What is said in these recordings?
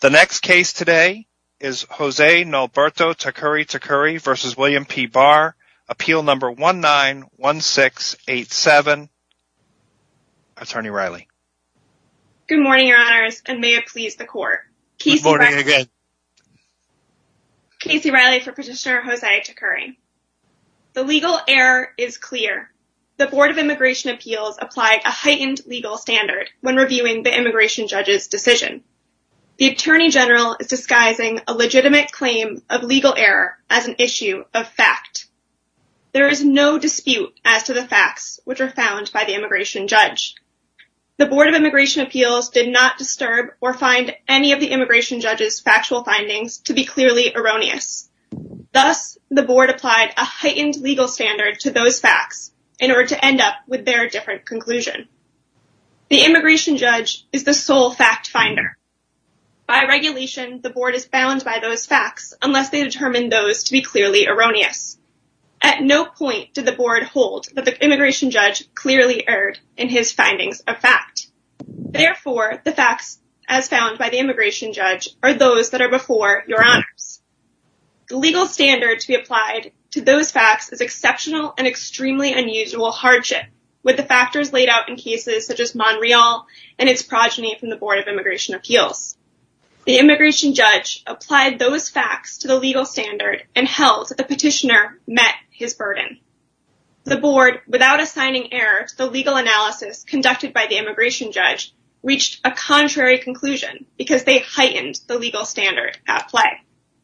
The next case today is Jose Nalberto-Tacuri-Tacuri v. William P. Barr, Appeal Number 191687, Attorney Riley. Good morning, Your Honors, and may it please the Court. Casey Riley for Petitioner Jose-Tacuri. The legal error is clear. The Board of Immigration Appeals applied a heightened legal standard when reviewing the immigration judge's decision. The Attorney General is disguising a legitimate claim of legal error as an issue of fact. There is no dispute as to the facts which are found by the immigration judge. The Board of Immigration Appeals did not disturb or find any of the immigration judge's factual findings to be clearly erroneous. Thus, the Board applied a heightened legal standard to those facts in order to end up with their different conclusion. The immigration judge is the sole fact finder. By regulation, the Board is bound by those facts unless they determine those to be clearly erroneous. At no point did the Board hold that the immigration judge clearly erred in his findings of fact. Therefore, the facts as found by the immigration judge are those that are before Your Honors. The legal standard to be applied to those facts is exceptional and extremely unusual hardship with the factors laid out in cases such as Montreal and its progeny from the Board of Immigration Appeals. The immigration judge applied those facts to the legal standard and held that the petitioner met his burden. The Board, without assigning error to the legal analysis conducted by the immigration judge, reached a contrary conclusion because they heightened the legal standard at play.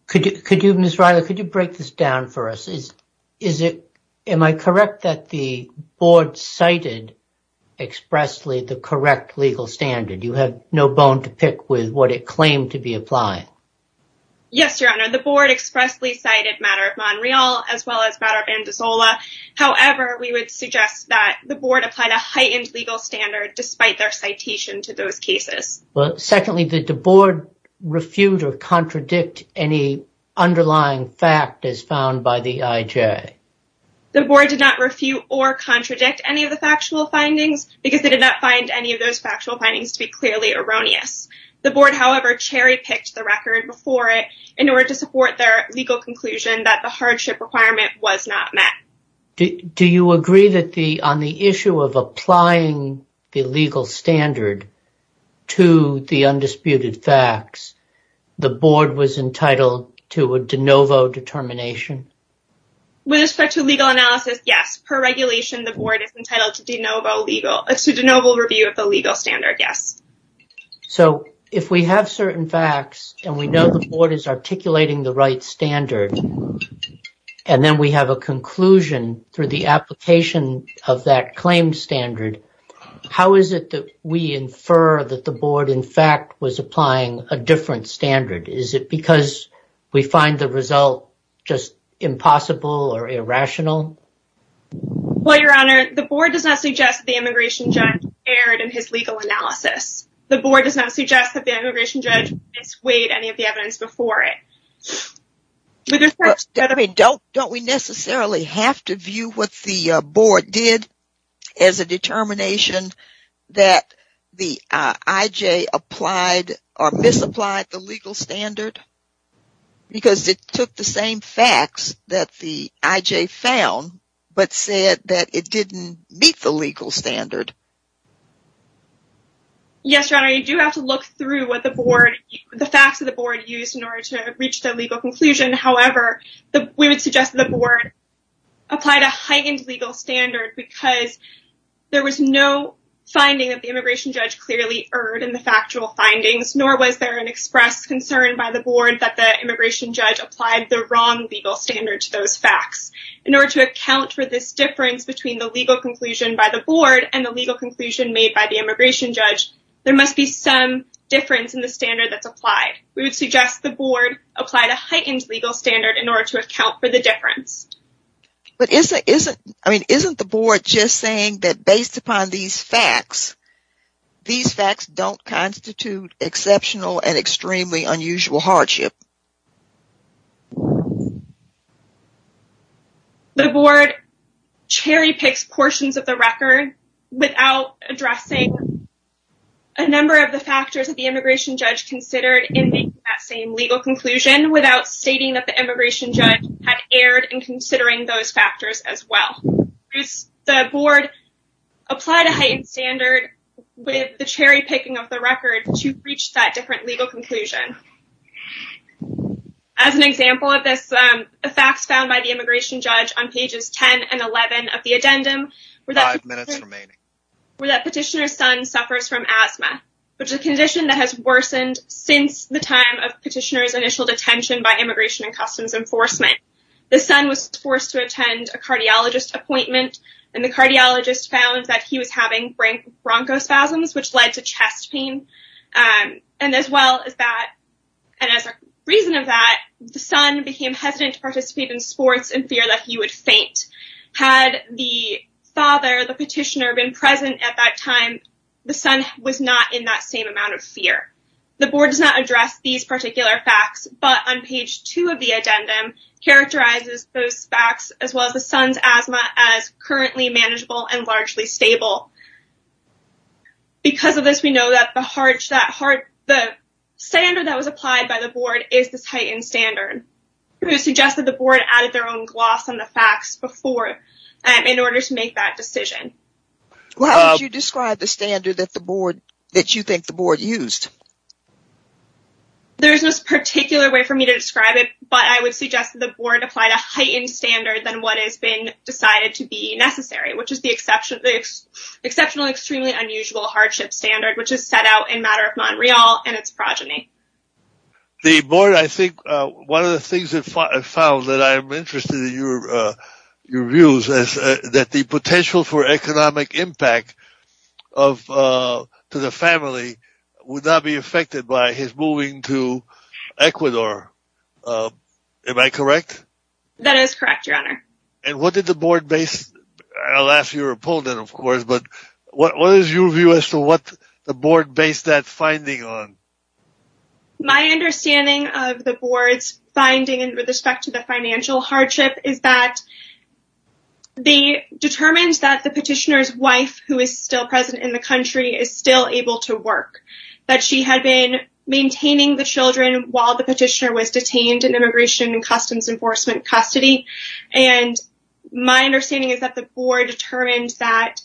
Could you, Ms. Riley, could you break this down for us? Is it, am I correct that the Board cited expressly the correct legal standard? You have no bone to pick with what it claimed to be applied. Yes, Your Honor, the Board expressly cited matter of Montreal as well as matter of Andazola. However, we would suggest that the Board applied a heightened legal standard despite their citation to those cases. Well, secondly, did the Board refute or contradict any underlying fact as found by the IJ? The Board did not refute or contradict any of the factual findings because they did not find any of those factual findings to be clearly erroneous. The Board, however, cherry-picked the record before it in order to support their legal conclusion that the hardship requirement was not met. Do you agree that on the issue of applying the legal standard to the undisputed facts, the Board was entitled to a de novo determination? With respect to legal analysis, yes. Per regulation, the Board is entitled to de novo review of the legal standard, yes. So, if we have certain facts and we know the Board is articulating the right standard, and then we have a conclusion through the application of that claimed standard, how is it that we infer that the Board, in fact, was applying a different standard? Is it because we find the result just impossible or irrational? Well, Your Honor, the Board does not suggest that the immigration judge erred in his legal analysis. The Board does not suggest that the immigration judge misweighed any of the evidence before it. Don't we necessarily have to view what the Board did as a determination that the IJ applied or misapplied the legal standard? Because it took the same facts that the IJ found, but said that it didn't meet the legal standard. Yes, Your Honor, you do have to look through what the facts of the Board used in order to reach the legal conclusion. However, we would suggest that the Board applied a heightened legal standard because there was no finding that the immigration judge clearly erred in the factual findings, nor was there an express concern by the Board that the immigration judge applied the wrong legal standard to those facts. In order to account for this difference between the legal conclusion by the Board and the legal conclusion made by the immigration judge, there must be some difference in the standard that's applied. We would suggest the Board applied a heightened legal standard in order to account for the difference. But isn't the Board just saying that based upon these facts, these facts don't constitute exceptional and extremely unusual hardship? The Board cherry-picks portions of the record without addressing a number of the factors that the immigration judge considered in making that same legal conclusion, without stating that the immigration judge had erred in considering those factors as well. The Board applied a heightened standard with the cherry-picking of the record to reach that different legal conclusion. As an example of this, the facts found by the immigration judge on pages 10 and 11 of the addendum were that petitioner's son suffers from asthma, which is a condition that has worsened since the time of petitioner's initial detention by Immigration and Customs Enforcement. The son was forced to attend a cardiologist appointment, and the cardiologist found that he was having bronchospasms, which led to chest pain. And as a reason of that, the son became hesitant to participate in sports in fear that he would faint. Had the father, the petitioner, been present at that time, the son was not in that same amount of fear. The Board does not address these particular facts, but on page 2 of the addendum, characterizes those facts, as well as the son's asthma, as currently manageable and largely stable. Because of this, we know that the standard that was applied by the Board is this heightened standard. It was suggested the Board added their own gloss on the facts before, in order to make that decision. How would you describe the standard that you think the Board used? There's no particular way for me to describe it, but I would suggest that the Board applied a heightened standard than what has been decided to be necessary, which is the exceptional and extremely unusual hardship standard, which is set out in Matter of Montreal and its progeny. The Board, I think, one of the things that I found that I'm interested in your views is that the potential for economic impact to the family would not be affected by his moving to Ecuador. Am I correct? That is correct, Your Honor. And what did the Board base, I'll ask your opponent, of course, but what is your view as to what the Board based that finding on? My understanding of the Board's finding with respect to the financial hardship is that they determined that the petitioner's wife, who is still present in the country, is still able to work, that she had been maintaining the children while the petitioner was detained in Immigration and Customs Enforcement custody. And my understanding is that the Board determined that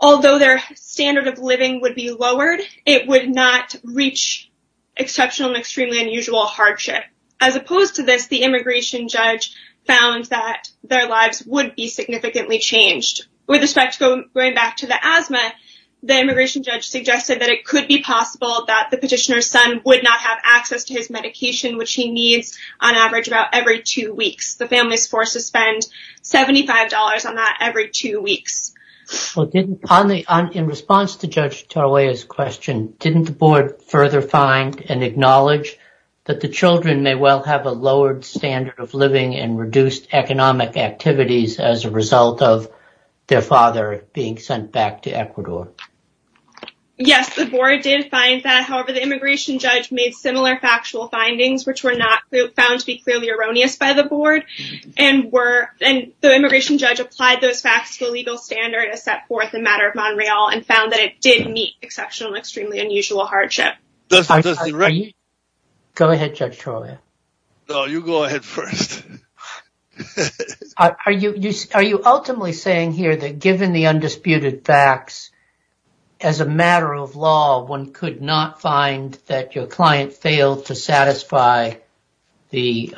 although their standard of living would be lowered, it would not reach exceptional and extremely unusual hardship. As opposed to this, the immigration judge found that their lives would be significantly changed. With respect to going back to the asthma, the immigration judge suggested that it could be possible that the petitioner's son would not have access to his medication, which he needs on average about every two weeks. The family is forced to spend $75 on that every two weeks. In response to Judge Tarroya's question, didn't the Board further find and acknowledge that the children may well have a lowered standard of living and reduced economic activities as a result of their father being sent back to Ecuador? Yes, the Board did find that. However, the immigration judge made similar factual findings, which were not found to be clearly erroneous by the Board. And the immigration judge applied those facts to the legal standard as set forth in Matter of Montreal and found that it did meet exceptional and extremely unusual hardship. Go ahead, Judge Tarroya. No, you go ahead first. Are you ultimately saying here that given the undisputed facts, as a matter of law, one could not find that your client failed to satisfy the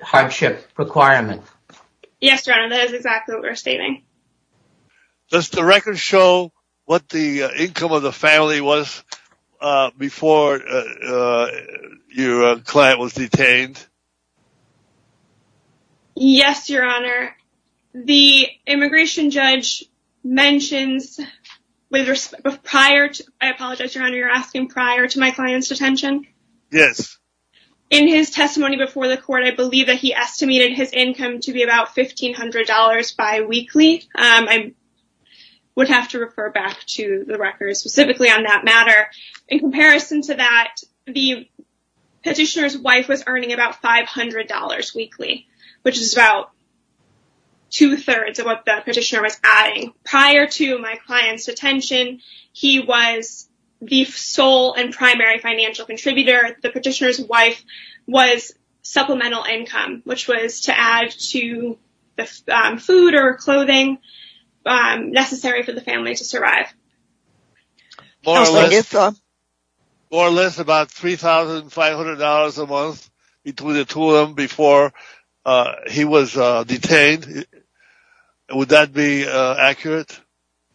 hardship requirement? Yes, Your Honor, that is exactly what we're stating. Does the record show what the income of the family was before your client was detained? Yes, Your Honor. The immigration judge mentions, I apologize, Your Honor, you're asking prior to my client's detention? Yes. In his testimony before the court, I believe that he estimated his income to be about $1,500 bi-weekly. I would have to refer back to the record specifically on that matter. In comparison to that, the petitioner's wife was earning about $500 weekly, which is about two-thirds of what the petitioner was adding. Prior to my client's detention, he was the sole and primary financial contributor. The petitioner's wife was supplemental income, which was to add to the food or clothing necessary for the family to survive. More or less about $3,500 a month between the two of them before he was detained. Would that be accurate?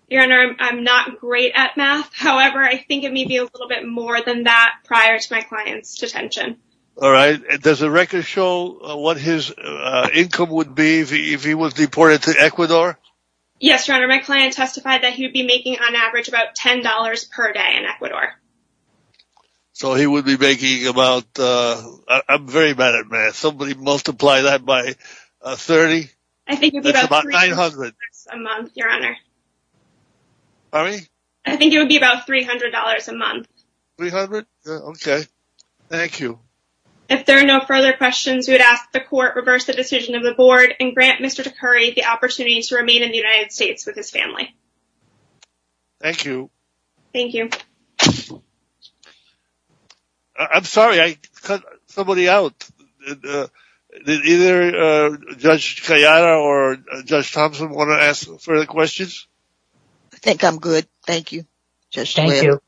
Your Honor, I'm not great at math. However, I think it may be a little bit more than that prior to my client's detention. All right. Does the record show what his income would be if he was deported to Ecuador? Yes, Your Honor. My client testified that he would be making on average about $10 per day in Ecuador. So he would be making about – I'm very bad at math. Somebody multiply that by 30. I think it would be about $300 a month, Your Honor. Pardon me? I think it would be about $300 a month. $300? Okay. Thank you. If there are no further questions, we would ask that the Court reverse the decision of the Board and grant Mr. DeCurry the opportunity to remain in the United States with his family. Thank you. Thank you. I'm sorry. I cut somebody out. Did either Judge Cayana or Judge Thompson want to ask further questions? Thank you. Thank you. Thank you.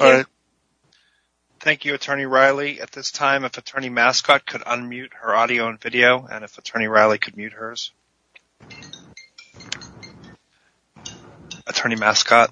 All right. At this time, if Attorney Mascott could unmute her audio and video, and if Attorney Riley could mute hers. Attorney Mascott?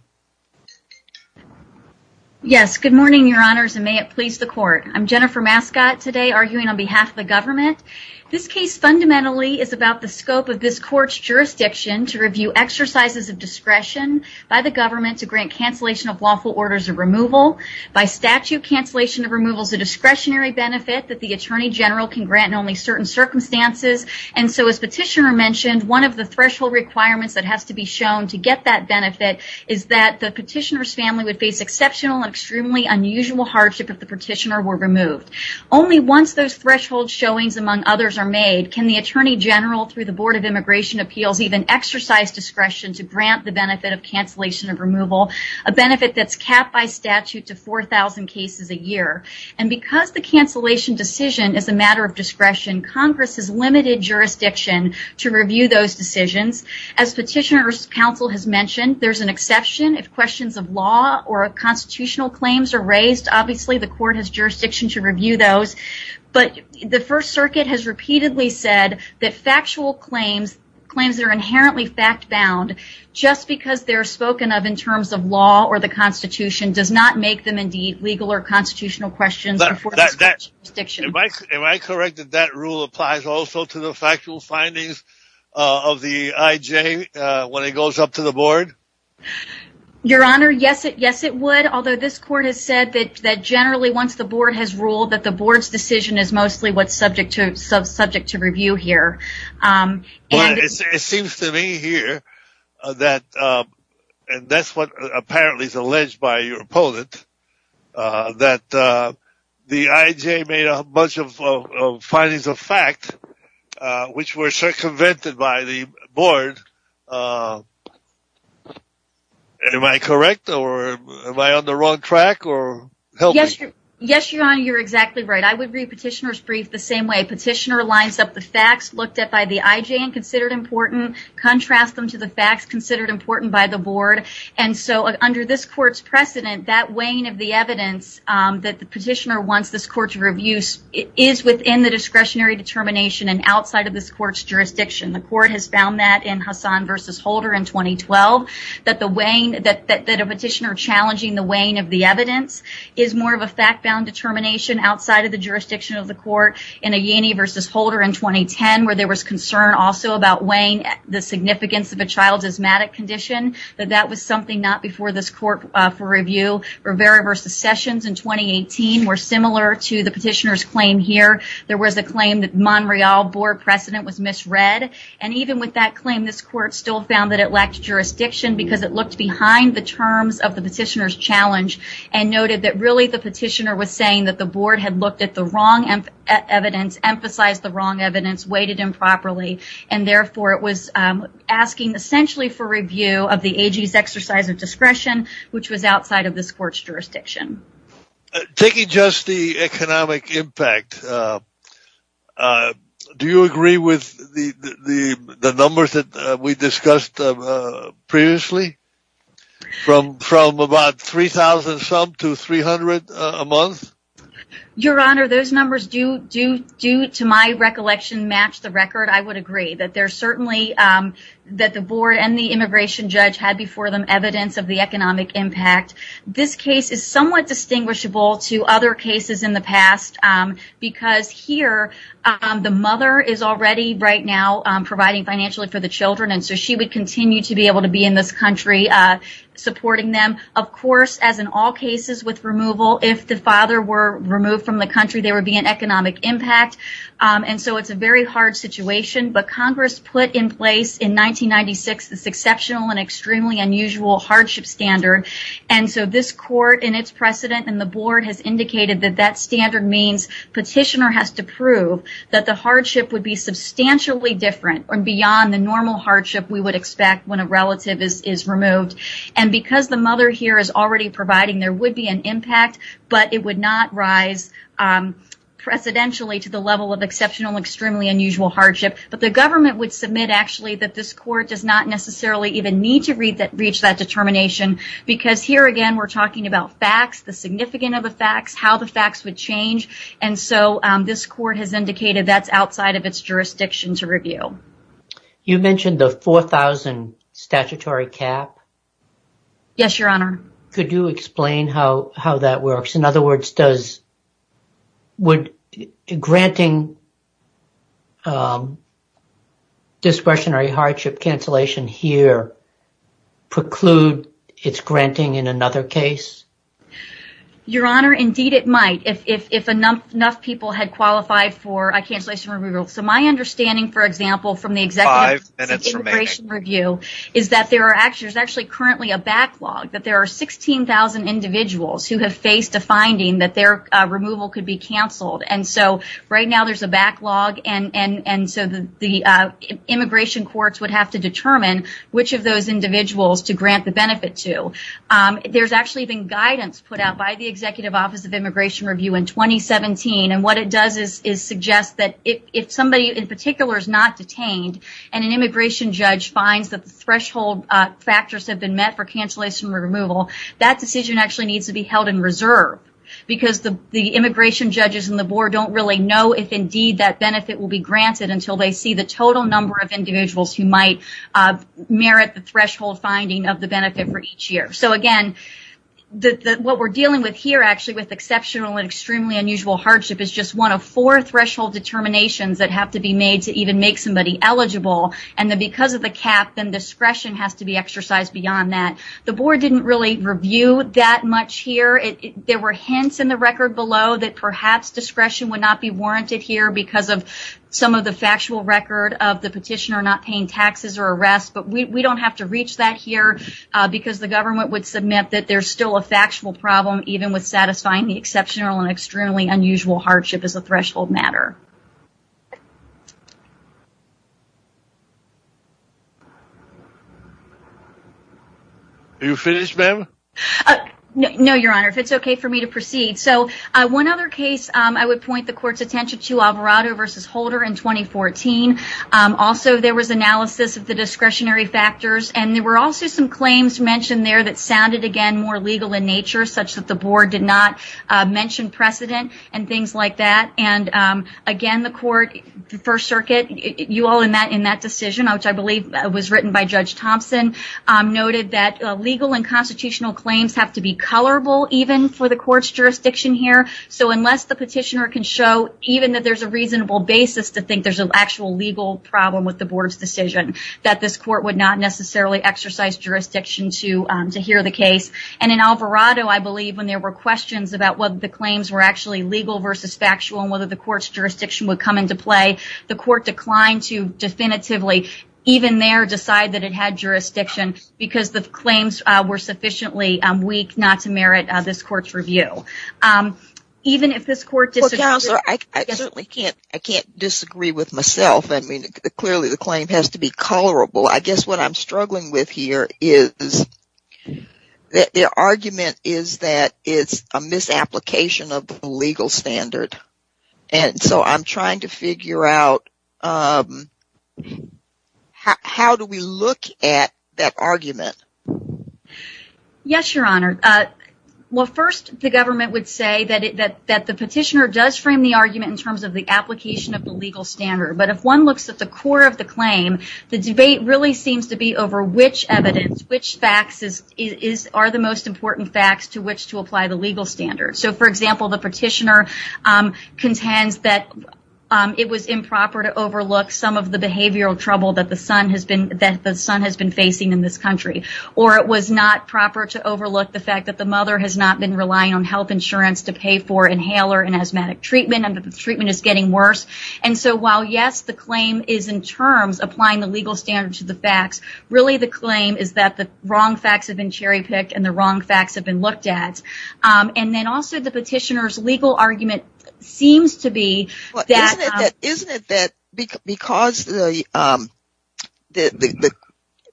Yes. Good morning, Your Honors, and may it please the Court. I'm Jennifer Mascott today arguing on behalf of the government. This case fundamentally is about the scope of this Court's jurisdiction to review exercises of discretion by the government to grant cancellation of lawful orders of removal. By statute, cancellation of removal is a discretionary benefit that the Attorney General can grant in only certain circumstances, and so, as Petitioner mentioned, one of the threshold requirements that has to be shown to get that benefit is that the Petitioner's family would face exceptional and extremely unusual hardship if the Petitioner were removed. Only once those threshold showings, among others, are made can the Attorney General, through the Board of Immigration Appeals, even exercise discretion to grant the benefit of cancellation of removal, a benefit that's capped by statute to 4,000 cases a year. And because the cancellation decision is a matter of discretion, Congress has limited jurisdiction to review those decisions. As Petitioner's counsel has mentioned, there's an exception if questions of law or constitutional claims are raised. Obviously, the Court has jurisdiction to review those, but the First Circuit has repeatedly said that factual claims, claims that are inherently fact-bound, just because they're spoken of in terms of law or the Constitution, does not make them, indeed, legal or constitutional questions. Am I correct that that rule applies also to the factual findings of the IJ when it goes up to the Board? Your Honor, yes, it would, although this Court has said that generally, once the Board has ruled, that the Board's decision is mostly what's subject to review here. It seems to me here that, and that's what apparently is alleged by your opponent, that the IJ made a bunch of findings of fact, which were circumvented by the Board. Am I correct, or am I on the wrong track? Yes, Your Honor, you're exactly right. I would read Petitioner's brief the same way. Petitioner lines up the facts looked at by the IJ and considered important, contrast them to the facts considered important by the Board, and so under this Court's precedent, that weighing of the evidence that the Petitioner wants this Court to review is within the discretionary determination and outside of this Court's jurisdiction. The Court has found that in Hassan v. Holder in 2012, that a Petitioner challenging the weighing of the evidence is more of a fact-bound determination outside of the jurisdiction of the Court. In Ayani v. Holder in 2010, where there was concern also about weighing the significance of a child's asthmatic condition, that that was something not before this Court for review. Rivera v. Sessions in 2018 were similar to the Petitioner's claim here. There was a claim that Monreal Board precedent was misread, and even with that claim, this Court still found that it lacked jurisdiction because it looked behind the terms of the Petitioner's challenge and noted that really the Petitioner was saying that the Board had looked at the wrong evidence, emphasized the wrong evidence, weighted improperly, and therefore it was asking essentially for review of the AG's exercise of discretion, which was outside of this Court's jurisdiction. Taking just the economic impact, do you agree with the numbers that we discussed previously? From about 3,000-some to 300 a month? Your Honor, those numbers do, to my recollection, match the record. I would agree that the Board and the immigration judge had before them evidence of the economic impact. This case is somewhat distinguishable to other cases in the past because here the mother is already right now providing financially for the children, so she would continue to be able to be in this country supporting them. Of course, as in all cases with removal, if the father were removed from the country, there would be an economic impact, and so it's a very hard situation. But Congress put in place in 1996 this exceptional and extremely unusual hardship standard, and so this Court, in its precedent, and the Board, has indicated that that standard means Petitioner has to prove that the hardship would be substantially different, or beyond the normal hardship we would expect when a relative is removed. And because the mother here is already providing, there would be an impact, but it would not rise precedentially to the level of exceptional and extremely unusual hardship. But the government would submit, actually, that this Court does not necessarily even need to reach that determination because here, again, we're talking about facts, the significance of the facts, how the facts would change. And so this Court has indicated that's outside of its jurisdiction to review. You mentioned the 4,000 statutory cap. Yes, Your Honor. Could you explain how that works? In other words, would granting discretionary hardship cancellation here preclude its granting in another case? Your Honor, indeed it might, if enough people had qualified for a cancellation removal. So my understanding, for example, from the Executive Immigration Review, is that there's actually currently a backlog, that there are 16,000 individuals who have faced a finding that their removal could be canceled. And so right now there's a backlog, and so the immigration courts would have to determine which of those individuals to grant the benefit to. There's actually been guidance put out by the Executive Office of Immigration Review in 2017, and what it does is suggest that if somebody in particular is not detained and an immigration judge finds that the threshold factors have been met for cancellation removal, that decision actually needs to be held in reserve because the immigration judges and the board don't really know if, indeed, that benefit will be granted until they see the total number of individuals who might merit the threshold finding of the benefit for each year. So again, what we're dealing with here, actually, with exceptional and extremely unusual hardship is just one of four threshold determinations that have to be made to even make somebody eligible, and then because of the cap, then discretion has to be exercised beyond that. The board didn't really review that much here. There were hints in the record below that perhaps discretion would not be warranted here because of some of the factual record of the petitioner not paying taxes or arrest, but we don't have to reach that here because the government would submit that there's still a factual problem even with satisfying the exceptional and extremely unusual hardship as a threshold matter. Are you finished, ma'am? No, Your Honor, if it's okay for me to proceed. So one other case I would point the court's attention to, Alvarado v. Holder in 2014. Also, there was analysis of the discretionary factors, and there were also some claims mentioned there that sounded, again, more legal in nature, such that the board did not mention precedent and things like that, and again, the court, the First Circuit, you all in that decision, which I believe was written by Judge Thompson, noted that legal and constitutional claims have to be colorable even for the court's jurisdiction here, so unless the petitioner can show even that there's a reasonable basis to think there's an actual legal problem with the board's decision, that this court would not necessarily exercise jurisdiction to hear the case, and in Alvarado, I believe, when there were questions about whether the claims were actually legal versus factual and whether the court's jurisdiction would come into play, the court declined to definitively, even there, decide that it had jurisdiction because the claims were sufficiently weak not to merit this court's review. Well, Counselor, I certainly can't disagree with myself. I mean, clearly the claim has to be colorable. I guess what I'm struggling with here is the argument is that it's a misapplication of the legal standard, and so I'm trying to figure out how do we look at that argument. Yes, Your Honor. Well, first, the government would say that the petitioner does frame the argument in terms of the application of the legal standard, but if one looks at the core of the claim, the debate really seems to be over which evidence, which facts are the most important facts to which to apply the legal standard. So, for example, the petitioner contends that it was improper to overlook some of the behavioral trouble that the son has been facing in this country, or it was not proper to overlook the fact that the mother has not been relying on health insurance to pay for inhaler and asthmatic treatment and that the treatment is getting worse. And so while, yes, the claim is in terms applying the legal standard to the facts, really the claim is that the wrong facts have been cherry-picked and the wrong facts have been looked at. And then also the petitioner's legal argument seems to be that… Isn't it that because the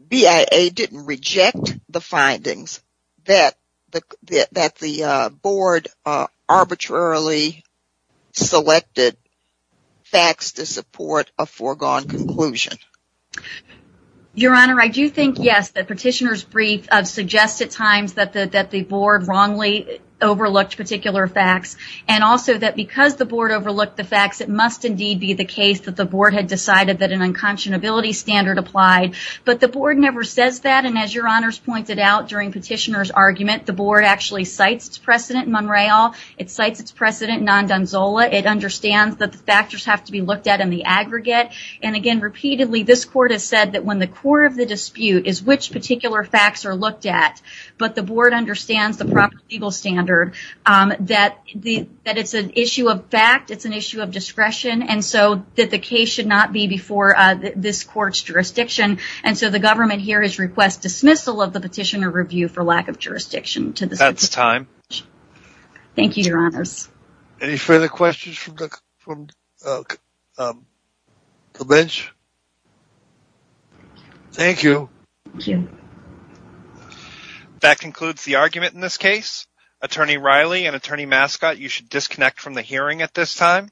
BIA didn't reject the findings, that the board arbitrarily selected facts to support a foregone conclusion? Your Honor, I do think, yes, that the petitioner's brief suggests at times that the board wrongly overlooked particular facts, and also that because the board overlooked the facts, it must indeed be the case that the board had decided that an unconscionability standard applied. But the board never says that, and as Your Honors pointed out during the petitioner's argument, the board actually cites its precedent in Monreal, it cites its precedent in Nondonzola, and again repeatedly this court has said that when the core of the dispute is which particular facts are looked at, but the board understands the proper legal standard, that it's an issue of fact, it's an issue of discretion, and so that the case should not be before this court's jurisdiction. And so the government here has requested dismissal of the petitioner review for lack of jurisdiction. That's time. Thank you, Your Honors. Any further questions from the bench? Thank you. Thank you. That concludes the argument in this case. Attorney Riley and Attorney Mascott, you should disconnect from the hearing at this time.